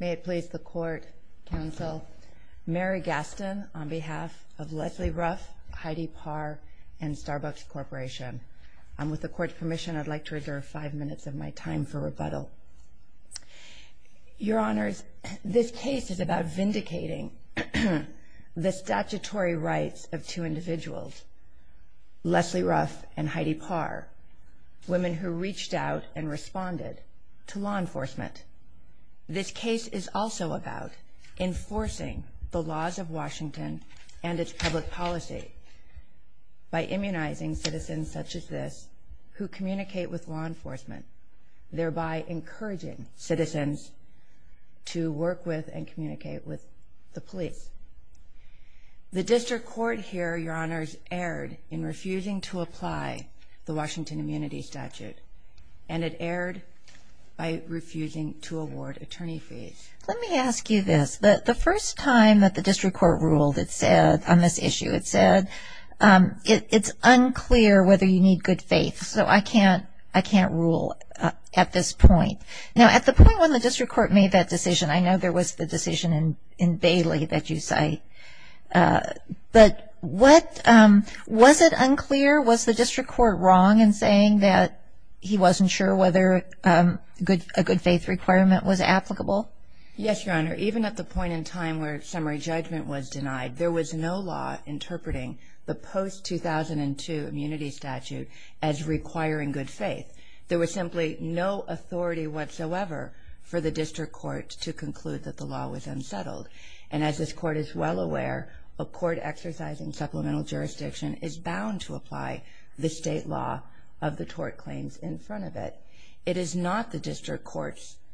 May it please the Court, Counsel, Mary Gaston, on behalf of Leslie Ruff, Heidi Parr, and Starbucks Corporation. With the Court's permission, I'd like to reserve five minutes of my time for rebuttal. Your Honors, this case is about vindicating the statutory rights of two individuals, Leslie Ruff and Heidi Parr, women who reached out and responded to law enforcement. This case is also about enforcing the laws of Washington and its public policy by immunizing citizens such as this who communicate with law enforcement, thereby encouraging citizens to work with and communicate with the police. The District Court here, Your Honors, erred in refusing to apply the Washington Immunity Statute, and it erred by refusing to award attorney fees. Let me ask you this. The first time that the District Court ruled on this issue, it said, it's unclear whether you need good faith, so I can't rule at this point. Now, at the point when the District Court made that decision, I know there was the decision in Bailey that you cite, but was it unclear? Was the District Court wrong in saying that he wasn't sure whether a good faith requirement was applicable? Yes, Your Honor. Even at the point in time where summary judgment was denied, there was no law interpreting the post-2002 immunity statute as requiring good faith. There was simply no authority whatsoever for the District Court to conclude that the law was unsettled. And as this Court is well aware, a court exercising supplemental jurisdiction is bound to apply the state law of the tort claims in front of it. It is not the District Court's –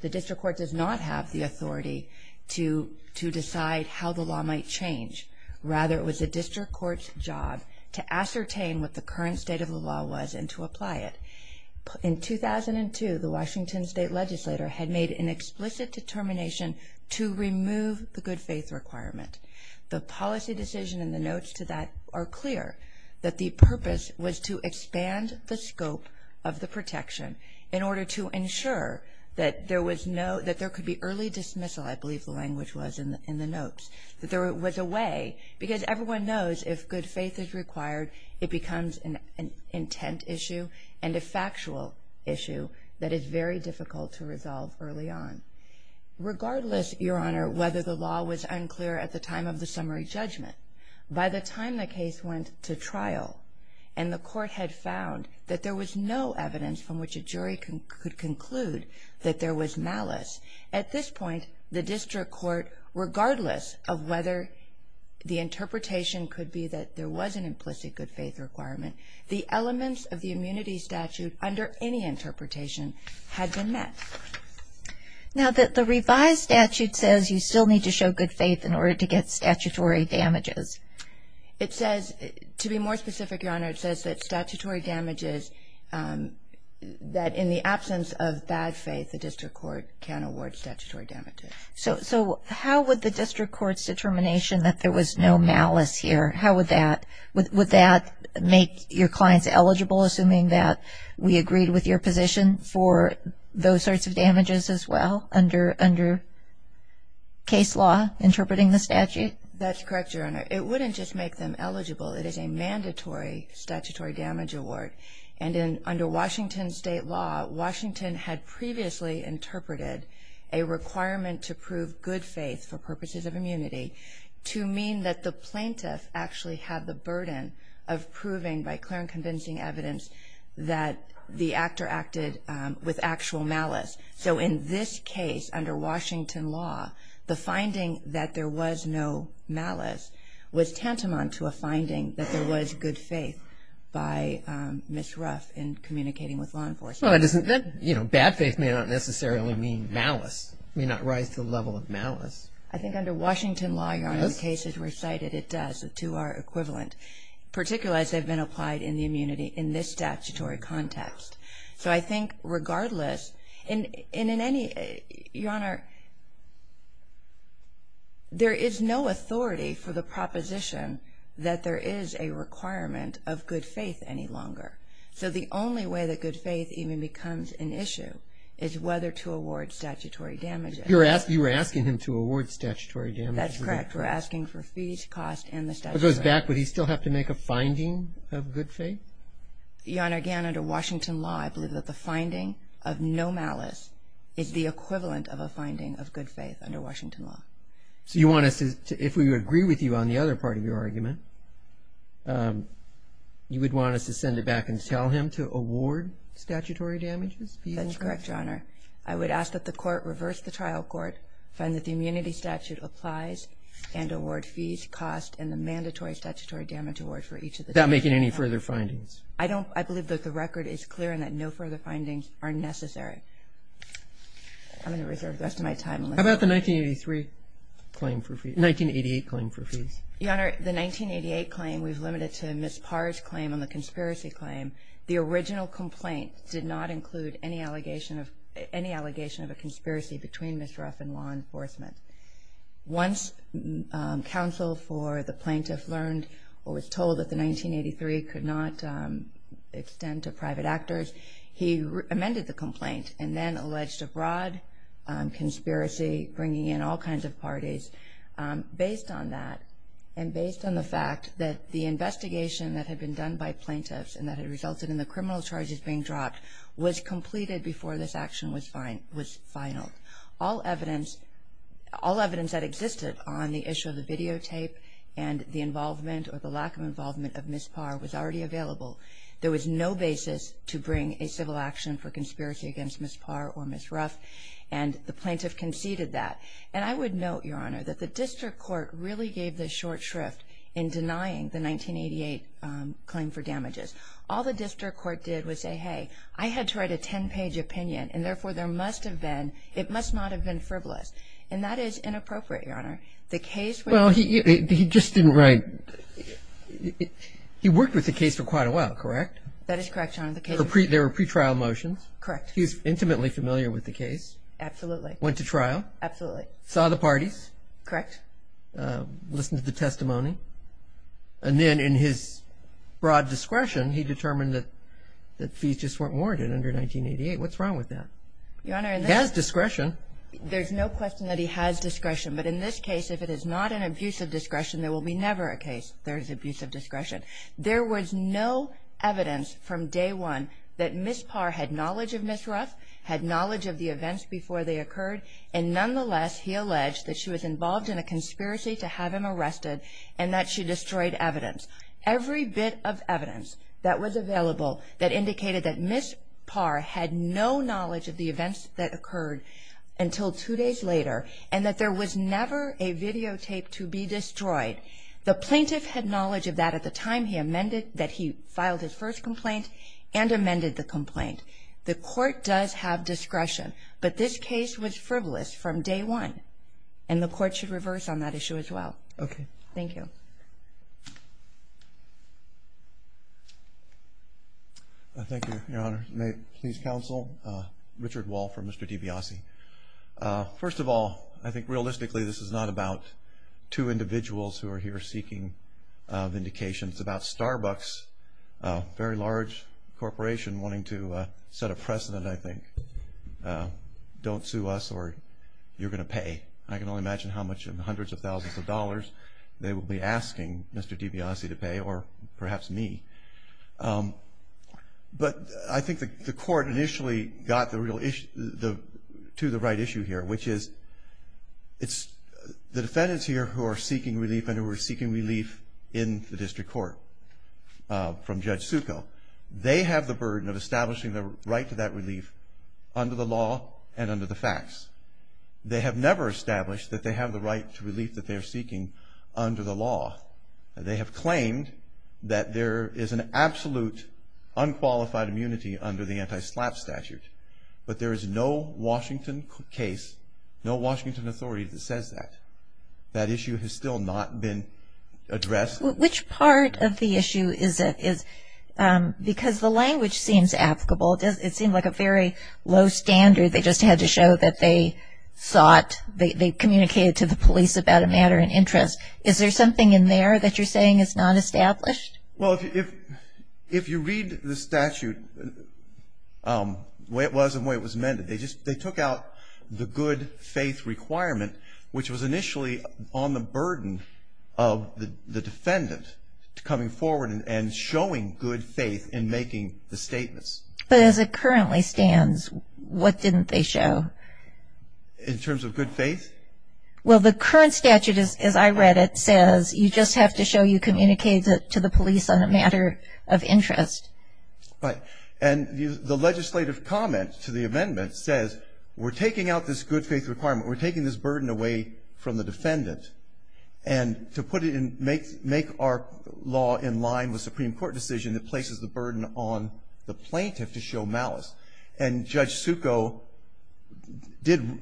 the District Court does not have the authority to decide how the law might change. Rather, it was the District Court's job to ascertain what the current state of the law was and to apply it. In 2002, the Washington State Legislature had made an explicit determination to remove the good faith requirement. The policy decision in the notes to that are clear that the purpose was to expand the scope of the protection in order to ensure that there was no – that there could be early dismissal, I believe the language was in the notes, that there was a way, because everyone knows if good faith is required, it becomes an intent issue and a factual issue that is very difficult to resolve early on. Regardless, Your Honor, whether the law was unclear at the time of the summary judgment, by the time the case went to trial and the Court had found that there was no evidence from which a jury could conclude that there was malice, at this point, the District Court, regardless of whether the interpretation could be that there was an implicit good faith requirement, the elements of the immunity statute under any interpretation had been met. Now, the revised statute says you still need to show good faith in order to get statutory damages. It says – to be more specific, Your Honor, it says that statutory damages that in the absence of bad faith, the District Court can award statutory damages. So how would the District Court's determination that there was no malice here, how would that – would that make your clients eligible, assuming that we agreed with your position, for those sorts of damages as well under case law interpreting the statute? That's correct, Your Honor. It wouldn't just make them eligible. It is a mandatory statutory damage award. And under Washington State law, Washington had previously interpreted a requirement to prove good faith for purposes of immunity to mean that the plaintiff actually had the burden of proving by clear and convincing evidence that the actor acted with actual malice. So in this case, under Washington law, the finding that there was no malice was tantamount to a finding that there was good faith by Ms. Ruff in communicating with law enforcement. Well, that doesn't – you know, bad faith may not necessarily mean malice. It may not rise to the level of malice. I think under Washington law, Your Honor, the cases recited, it does. The two are equivalent, particularly as they've been applied in the immunity in this statutory context. So I think regardless – and in any – Your Honor, there is no authority for the proposition that there is a requirement of good faith any longer. So the only way that good faith even becomes an issue is whether to award statutory damages. You're asking him to award statutory damages? That's correct. We're asking for fees, cost, and the statutory damages. It goes back. Would he still have to make a finding of good faith? Your Honor, again, under Washington law, I believe that the finding of no malice is the equivalent of a finding of good faith under Washington law. So you want us to – if we agree with you on the other part of your argument, you would want us to send it back and tell him to award statutory damages? That's correct, Your Honor. I would ask that the court reverse the trial court, find that the immunity statute applies, and award fees, cost, and the mandatory statutory damage award for each of the cases. Without making any further findings? I don't – I believe that the record is clear and that no further findings are necessary. I'm going to reserve the rest of my time. How about the 1983 claim for fees – 1988 claim for fees? Your Honor, the 1988 claim, we've limited to Ms. Parr's claim on the conspiracy claim. The original complaint did not include any allegation of – any allegation of a conspiracy between Ms. Ruff and law enforcement. Once counsel for the plaintiff learned or was told that the 1983 could not extend to private actors, he amended the complaint and then alleged a broad conspiracy bringing in all kinds of parties. Based on that and based on the fact that the investigation that had been done by plaintiffs and that had resulted in the criminal charges being dropped was completed before this action was finaled. All evidence – all evidence that existed on the issue of the videotape and the involvement or the lack of involvement of Ms. Parr was already available. There was no basis to bring a civil action for conspiracy against Ms. Parr or Ms. Ruff, and the plaintiff conceded that. And I would note, Your Honor, that the district court really gave the short shrift in denying the 1988 claim for damages. All the district court did was say, hey, I had to write a 10-page opinion, and therefore there must have been – it must not have been frivolous. And that is inappropriate, Your Honor. The case – Well, he just didn't write – he worked with the case for quite a while, correct? That is correct, Your Honor. There were pretrial motions. Correct. He was intimately familiar with the case. Absolutely. Went to trial. Absolutely. Saw the parties. Correct. Listened to the testimony. And then in his broad discretion, he determined that fees just weren't warranted under 1988. What's wrong with that? Your Honor, in this – He has discretion. There's no question that he has discretion. But in this case, if it is not an abuse of discretion, there will be never a case there is abuse of discretion. There was no evidence from day one that Ms. Parr had knowledge of Ms. Ruff, had knowledge of the events before they occurred, and nonetheless he alleged that she was involved in a conspiracy to have him arrested and that she destroyed evidence. Every bit of evidence that was available that indicated that Ms. Parr had no knowledge of the events that occurred until two days later and that there was never a videotape to be destroyed. The plaintiff had knowledge of that at the time he amended – that he filed his first complaint and amended the complaint. The court does have discretion, but this case was frivolous from day one, and the court should reverse on that issue as well. Okay. Thank you. Thank you. Thank you, Your Honor. May it please counsel, Richard Wall for Mr. DiBiase. First of all, I think realistically this is not about two individuals who are here seeking vindication. It's about Starbucks, a very large corporation wanting to set a precedent, I think. Don't sue us or you're going to pay. I can only imagine how much in the hundreds of thousands of dollars they will be asking Mr. DiBiase to pay or perhaps me. But I think the court initially got to the right issue here, which is it's the defendants here who are seeking relief and who are seeking relief in the district court from Judge Succo. They have the burden of establishing the right to that relief under the law and under the facts. They have never established that they have the right to relief that they are seeking under the law. They have claimed that there is an absolute unqualified immunity under the anti-SLAPP statute, but there is no Washington case, no Washington authority that says that. That issue has still not been addressed. Which part of the issue is it? Because the language seems applicable. It seems like a very low standard. They just had to show that they sought, they communicated to the police about a matter in interest. Is there something in there that you're saying is not established? Well, if you read the statute, the way it was and the way it was amended, they took out the good faith requirement, which was initially on the burden of the defendant coming forward and showing good faith in making the statements. But as it currently stands, what didn't they show? In terms of good faith? Well, the current statute, as I read it, says you just have to show you communicated to the police on a matter of interest. Right. And the legislative comment to the amendment says we're taking out this good faith requirement, we're taking this burden away from the defendant, and to put it in, make our law in line with a Supreme Court decision that places the burden on the plaintiff to show malice. And Judge Succo did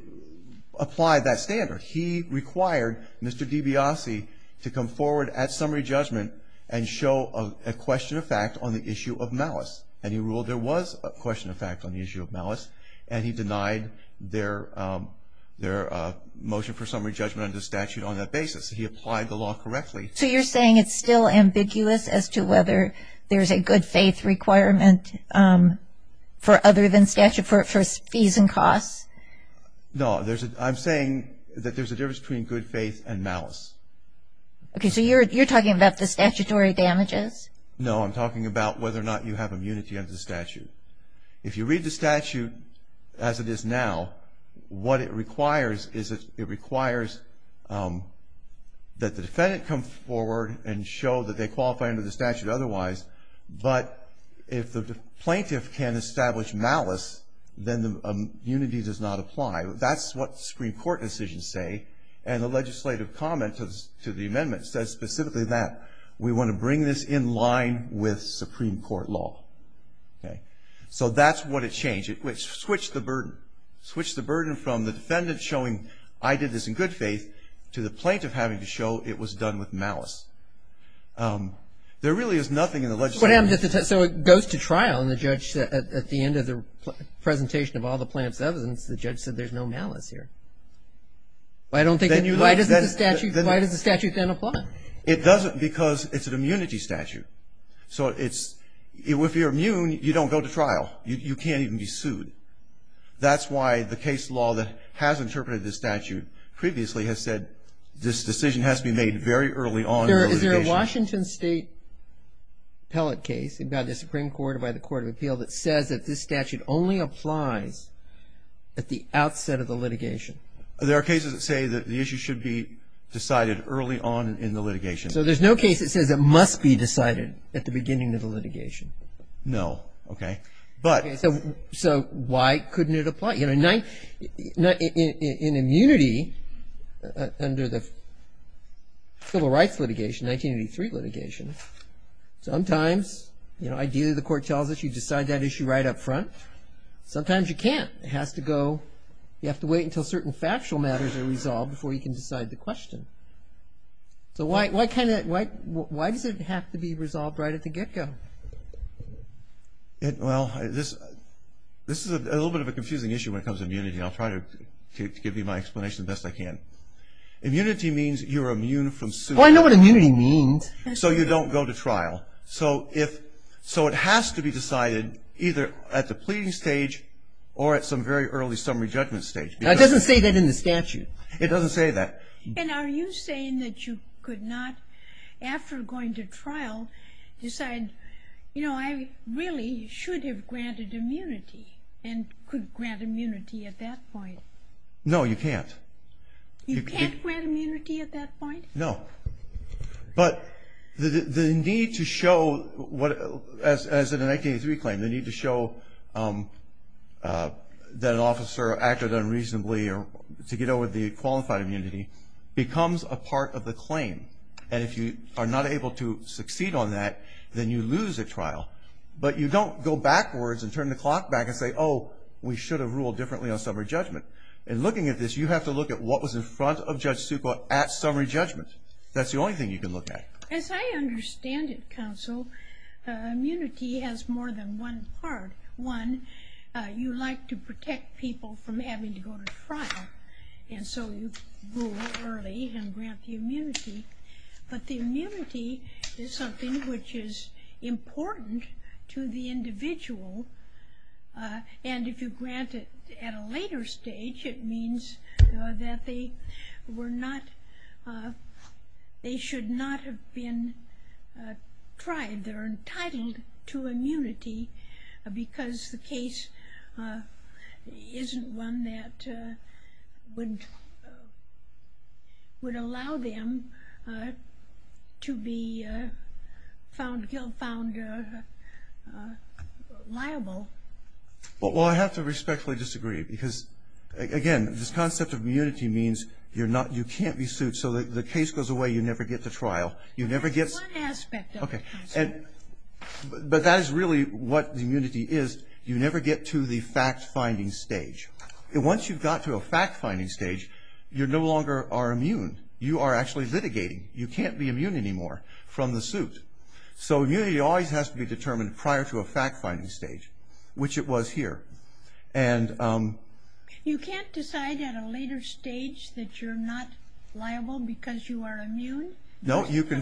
apply that standard. He required Mr. DiBiase to come forward at summary judgment and show a question of fact on the issue of malice. And he ruled there was a question of fact on the issue of malice. And he denied their motion for summary judgment under the statute on that basis. He applied the law correctly. So you're saying it's still ambiguous as to whether there's a good faith requirement for other than statute for fees and costs? No. I'm saying that there's a difference between good faith and malice. Okay. So you're talking about the statutory damages? I'm talking about whether or not you have immunity under the statute. If you read the statute as it is now, what it requires is it requires that the defendant come forward and show that they qualify under the statute otherwise. But if the plaintiff can establish malice, then the immunity does not apply. That's what Supreme Court decisions say. And the legislative comment to the amendment says specifically that we want to bring this in line with Supreme Court law. Okay. So that's what it changed. It switched the burden. Switched the burden from the defendant showing I did this in good faith to the plaintiff having to show it was done with malice. There really is nothing in the legislative. So it goes to trial and the judge at the end of the presentation of all the plaintiff's evidence, the judge said there's no malice here. Why doesn't the statute then apply? It doesn't because it's an immunity statute. So if you're immune, you don't go to trial. You can't even be sued. That's why the case law that has interpreted this statute previously has said this decision has to be made very early on in the litigation. Is there a Washington State appellate case by the Supreme Court or by the Court of Appeal that says that this statute only applies at the outset of the litigation? There are cases that say that the issue should be decided early on in the litigation. So there's no case that says it must be decided at the beginning of the litigation? No. Okay. So why couldn't it apply? In immunity under the Civil Rights litigation, 1983 litigation, sometimes, you know, ideally the court tells us you decide that issue right up front. Sometimes you can't. It has to go, you have to wait until certain factual matters are resolved before you can decide the question. So why does it have to be resolved right at the get-go? Well, this is a little bit of a confusing issue when it comes to immunity. I'll try to give you my explanation the best I can. Immunity means you're immune from suit. Oh, I know what immunity means. So you don't go to trial. So it has to be decided either at the pleading stage or at some very early summary judgment stage. It doesn't say that in the statute. It doesn't say that. And are you saying that you could not, after going to trial, decide, you know, I really should have granted immunity and could grant immunity at that point? No, you can't. You can't grant immunity at that point? No. But the need to show, as in the 1983 claim, the need to show that an officer acted unreasonably to get over the qualified immunity becomes a part of the claim. And if you are not able to succeed on that, then you lose at trial. But you don't go backwards and turn the clock back and say, oh, we should have ruled differently on summary judgment. In looking at this, you have to look at what was in front of Judge Succo at summary judgment. That's the only thing you can look at. As I understand it, counsel, immunity has more than one part. One, you like to protect people from having to go to trial. And so you rule early and grant the immunity. But the immunity is something which is important to the individual. And if you grant it at a later stage, it means that they were not, they should not have been tried. They're entitled to immunity because the case isn't one that would allow them to be found liable. Well, I have to respectfully disagree because, again, this concept of immunity means you can't be sued. So the case goes away. You never get to trial. That's one aspect of it. But that is really what the immunity is. You never get to the fact-finding stage. Once you've got to a fact-finding stage, you no longer are immune. You are actually litigating. You can't be immune anymore from the suit. So immunity always has to be determined prior to a fact-finding stage, which it was here. You can't decide at a later stage that you're not liable because you are immune? No, you can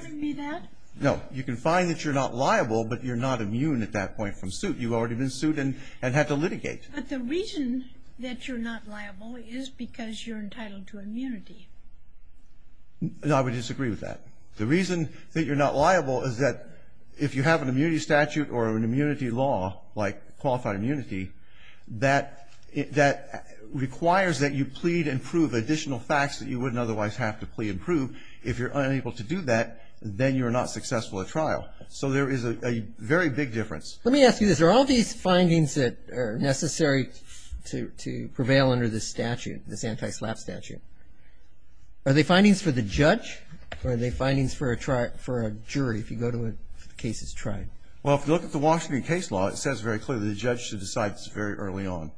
find that you're not liable, but you're not immune at that point from suit. You've already been sued and had to litigate. But the reason that you're not liable is because you're entitled to immunity. No, I would disagree with that. The reason that you're not liable is that if you have an immunity statute or an immunity law, like qualified immunity, that requires that you plead and prove additional facts that you wouldn't otherwise have to plead and prove if you're unable to do that, then you are not successful at trial. So there is a very big difference. Let me ask you this. Are all these findings that are necessary to prevail under this statute, this anti-SLAPP statute, are they findings for the judge or are they findings for a jury if the case is tried? Well, if you look at the Washington case law, it says very clearly the judge should decide this very early on.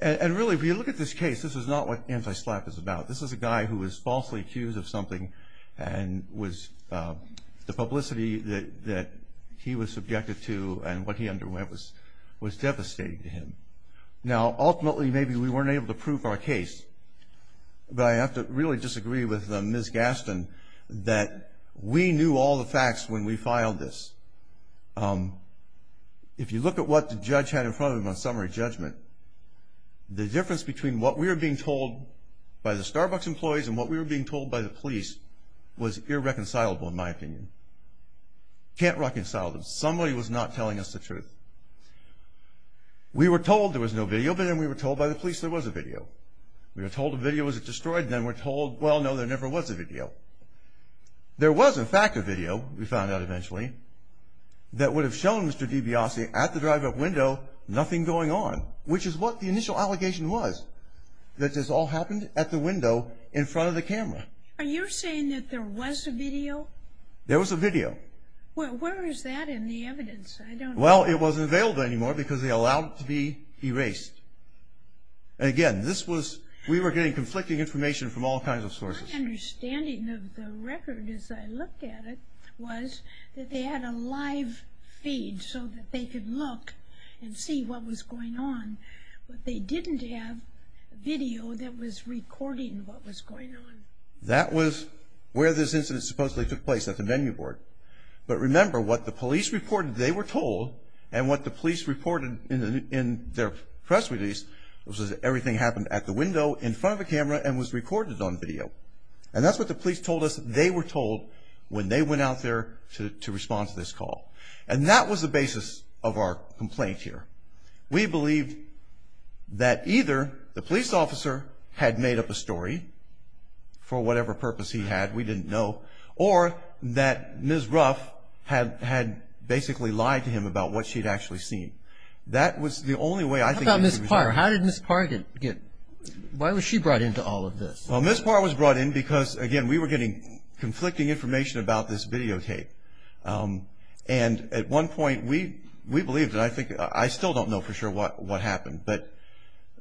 And really, if you look at this case, this is not what anti-SLAPP is about. This is a guy who was falsely accused of something and the publicity that he was subjected to and what he underwent was devastating to him. Now, ultimately, maybe we weren't able to prove our case, but I have to really disagree with Ms. Gaston that we knew all the facts when we filed this. If you look at what the judge had in front of him on summary judgment, the difference between what we were being told by the Starbucks employees and what we were being told by the police was irreconcilable, in my opinion. Can't reconcile them. Somebody was not telling us the truth. We were told there was no video, but then we were told by the police there was a video. We were told a video was destroyed, and then we're told, well, no, there never was a video. There was, in fact, a video, we found out eventually, that would have shown Mr. DiBiase at the drive-up window nothing going on. Which is what the initial allegation was, that this all happened at the window in front of the camera. Are you saying that there was a video? There was a video. Well, where is that in the evidence? Well, it wasn't available anymore because they allowed it to be erased. Again, this was, we were getting conflicting information from all kinds of sources. My understanding of the record as I looked at it was that they had a live feed so that they could look and see what was going on, but they didn't have video that was recording what was going on. That was where this incident supposedly took place, at the venue board. But remember, what the police reported they were told, and what the police reported in their press release, was that everything happened at the window in front of the camera and was recorded on video. And that's what the police told us they were told when they went out there to respond to this call. And that was the basis of our complaint here. We believed that either the police officer had made up a story for whatever purpose he had. We didn't know. Or that Ms. Ruff had basically lied to him about what she'd actually seen. That was the only way I think that she was. How about Ms. Parr? How did Ms. Parr get, why was she brought into all of this? Well, Ms. Parr was brought in because, again, we were getting conflicting information about this videotape. And at one point we believed, and I still don't know for sure what happened, but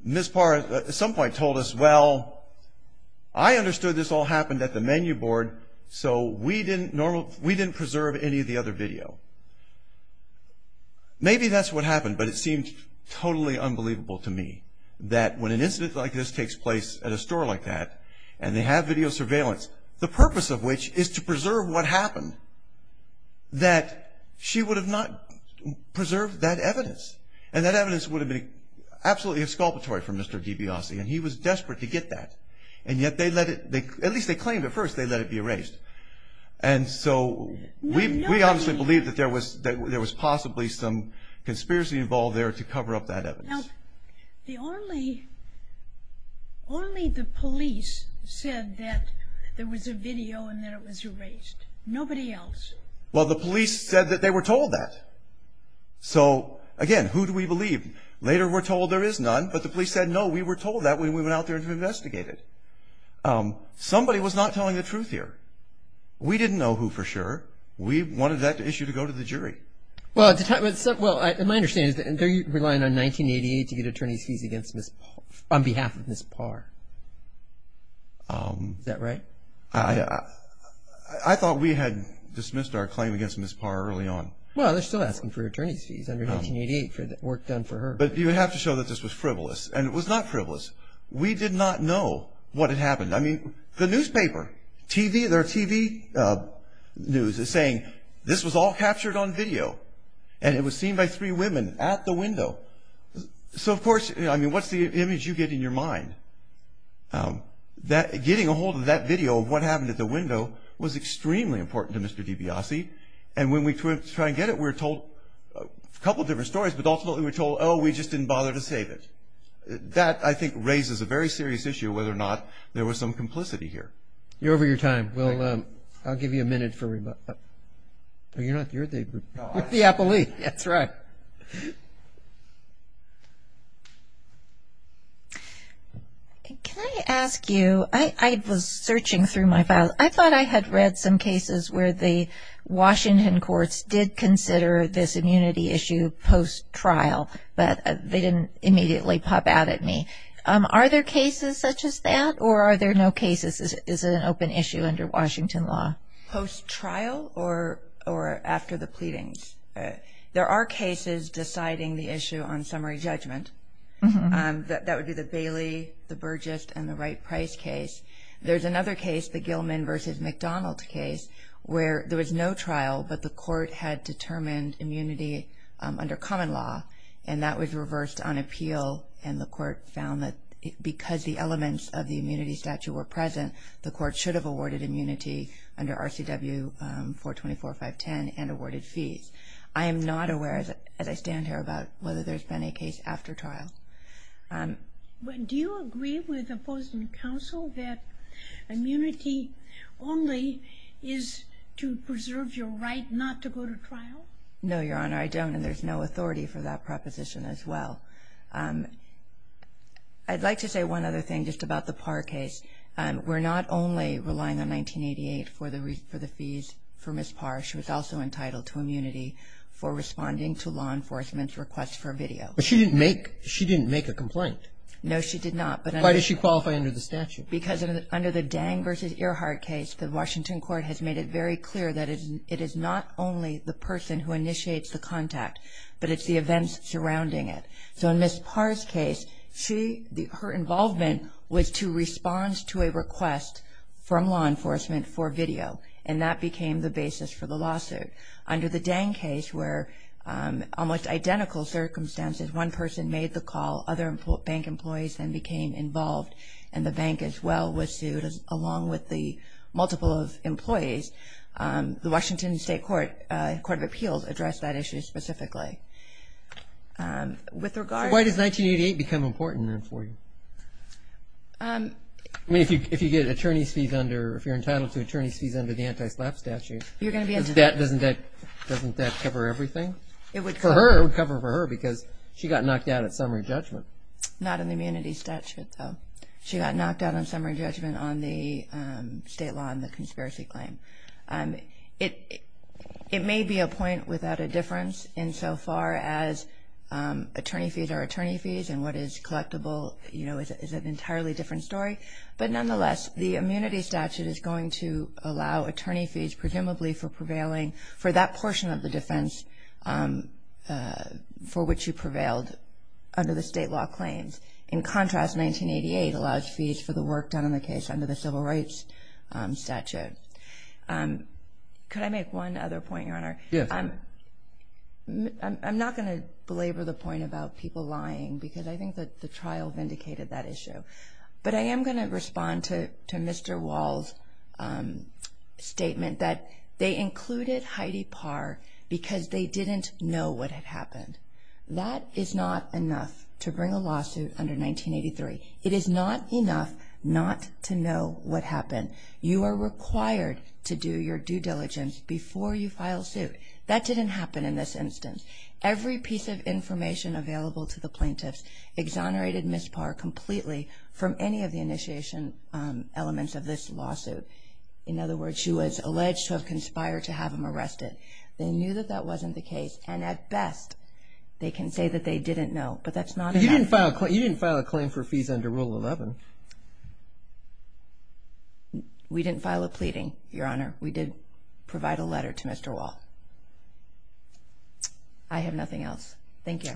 Ms. Parr at some point told us, well, I understood this all happened at the menu board, so we didn't preserve any of the other video. Maybe that's what happened, but it seemed totally unbelievable to me that when an incident like this takes place at a store like that, and they have video surveillance, the purpose of which is to preserve what happened, that she would have not preserved that evidence. And that evidence would have been absolutely exculpatory for Mr. DiBiase, and he was desperate to get that. And yet they let it, at least they claimed at first, they let it be erased. And so we obviously believed that there was possibly some conspiracy involved there to cover up that evidence. Now, only the police said that there was a video and that it was erased. Nobody else. Well, the police said that they were told that. So, again, who do we believe? Later we're told there is none, but the police said, no, we were told that when we went out there to investigate it. Somebody was not telling the truth here. We didn't know who for sure. We wanted that issue to go to the jury. Well, my understanding is that they're relying on 1988 to get attorney's fees on behalf of Ms. Parr. Is that right? I thought we had dismissed our claim against Ms. Parr early on. Well, they're still asking for attorney's fees under 1988 for the work done for her. But you have to show that this was frivolous. And it was not frivolous. We did not know what had happened. I mean, the newspaper, TV, their TV news is saying this was all captured on video. And it was seen by three women at the window. So, of course, I mean, what's the image you get in your mind? Getting a hold of that video of what happened at the window was extremely important to Mr. DiBiase. And when we tried to get it, we were told a couple different stories, but ultimately we were told, oh, we just didn't bother to save it. That, I think, raises a very serious issue whether or not there was some complicity here. You're over your time. Well, I'll give you a minute for rebuttal. No, you're not. You're the appellee. That's right. Can I ask you, I was searching through my file. I thought I had read some cases where the Washington courts did consider this immunity issue post-trial, but they didn't immediately pop out at me. Are there cases such as that, or are there no cases? Is it an open issue under Washington law? Post-trial or after the pleadings? There are cases deciding the issue on summary judgment. That would be the Bailey, the Burgess, and the Wright-Price case. There's another case, the Gilman v. McDonald case, where there was no trial, but the court had determined immunity under common law, and that was reversed on appeal, and the court found that because the elements of the immunity statute were present, the court should have awarded immunity under RCW 424.510 and awarded fees. I am not aware, as I stand here, about whether there's been a case after trial. Do you agree with opposing counsel that immunity only is to preserve your right not to go to trial? No, Your Honor, I don't, and there's no authority for that proposition as well. I'd like to say one other thing just about the Parr case. We're not only relying on 1988 for the fees for Ms. Parr. She was also entitled to immunity for responding to law enforcement's request for video. But she didn't make a complaint. No, she did not. Why does she qualify under the statute? Because under the Dang v. Earhardt case, the Washington court has made it very clear that it is not only the person who initiates the contact, but it's the events surrounding it. So in Ms. Parr's case, her involvement was to respond to a request from law enforcement for video, and that became the basis for the lawsuit. Under the Dang case, where almost identical circumstances, one person made the call, other bank employees then became involved, and the bank as well was sued along with the multiple of employees, the Washington State Court of Appeals addressed that issue specifically. So why does 1988 become important then for you? I mean, if you get attorney's fees under, if you're entitled to attorney's fees under the anti-slap statute, doesn't that cover everything? It would cover. It would cover for her because she got knocked out at summary judgment. Not in the immunity statute, though. She got knocked out on summary judgment on the state law and the conspiracy claim. It may be a point without a difference insofar as attorney fees are attorney fees, and what is collectible is an entirely different story. But nonetheless, the immunity statute is going to allow attorney fees, presumably for prevailing for that portion of the defense for which you prevailed under the state law claims. In contrast, 1988 allows fees for the work done on the case under the civil rights statute. Could I make one other point, Your Honor? Yes. I'm not going to belabor the point about people lying, because I think that the trial vindicated that issue. But I am going to respond to Mr. Wall's statement that they included Heidi Parr because they didn't know what had happened. That is not enough to bring a lawsuit under 1983. It is not enough not to know what happened. You are required to do your due diligence before you file suit. That didn't happen in this instance. Every piece of information available to the plaintiffs exonerated Ms. Parr completely from any of the initiation elements of this lawsuit. In other words, she was alleged to have conspired to have him arrested. They knew that that wasn't the case, and at best, they can say that they didn't know. But that's not enough. You didn't file a claim for fees under Rule 11. We didn't file a pleading, Your Honor. We did provide a letter to Mr. Wall. I have nothing else. Thank you.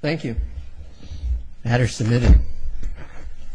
Thank you. The matter is submitted.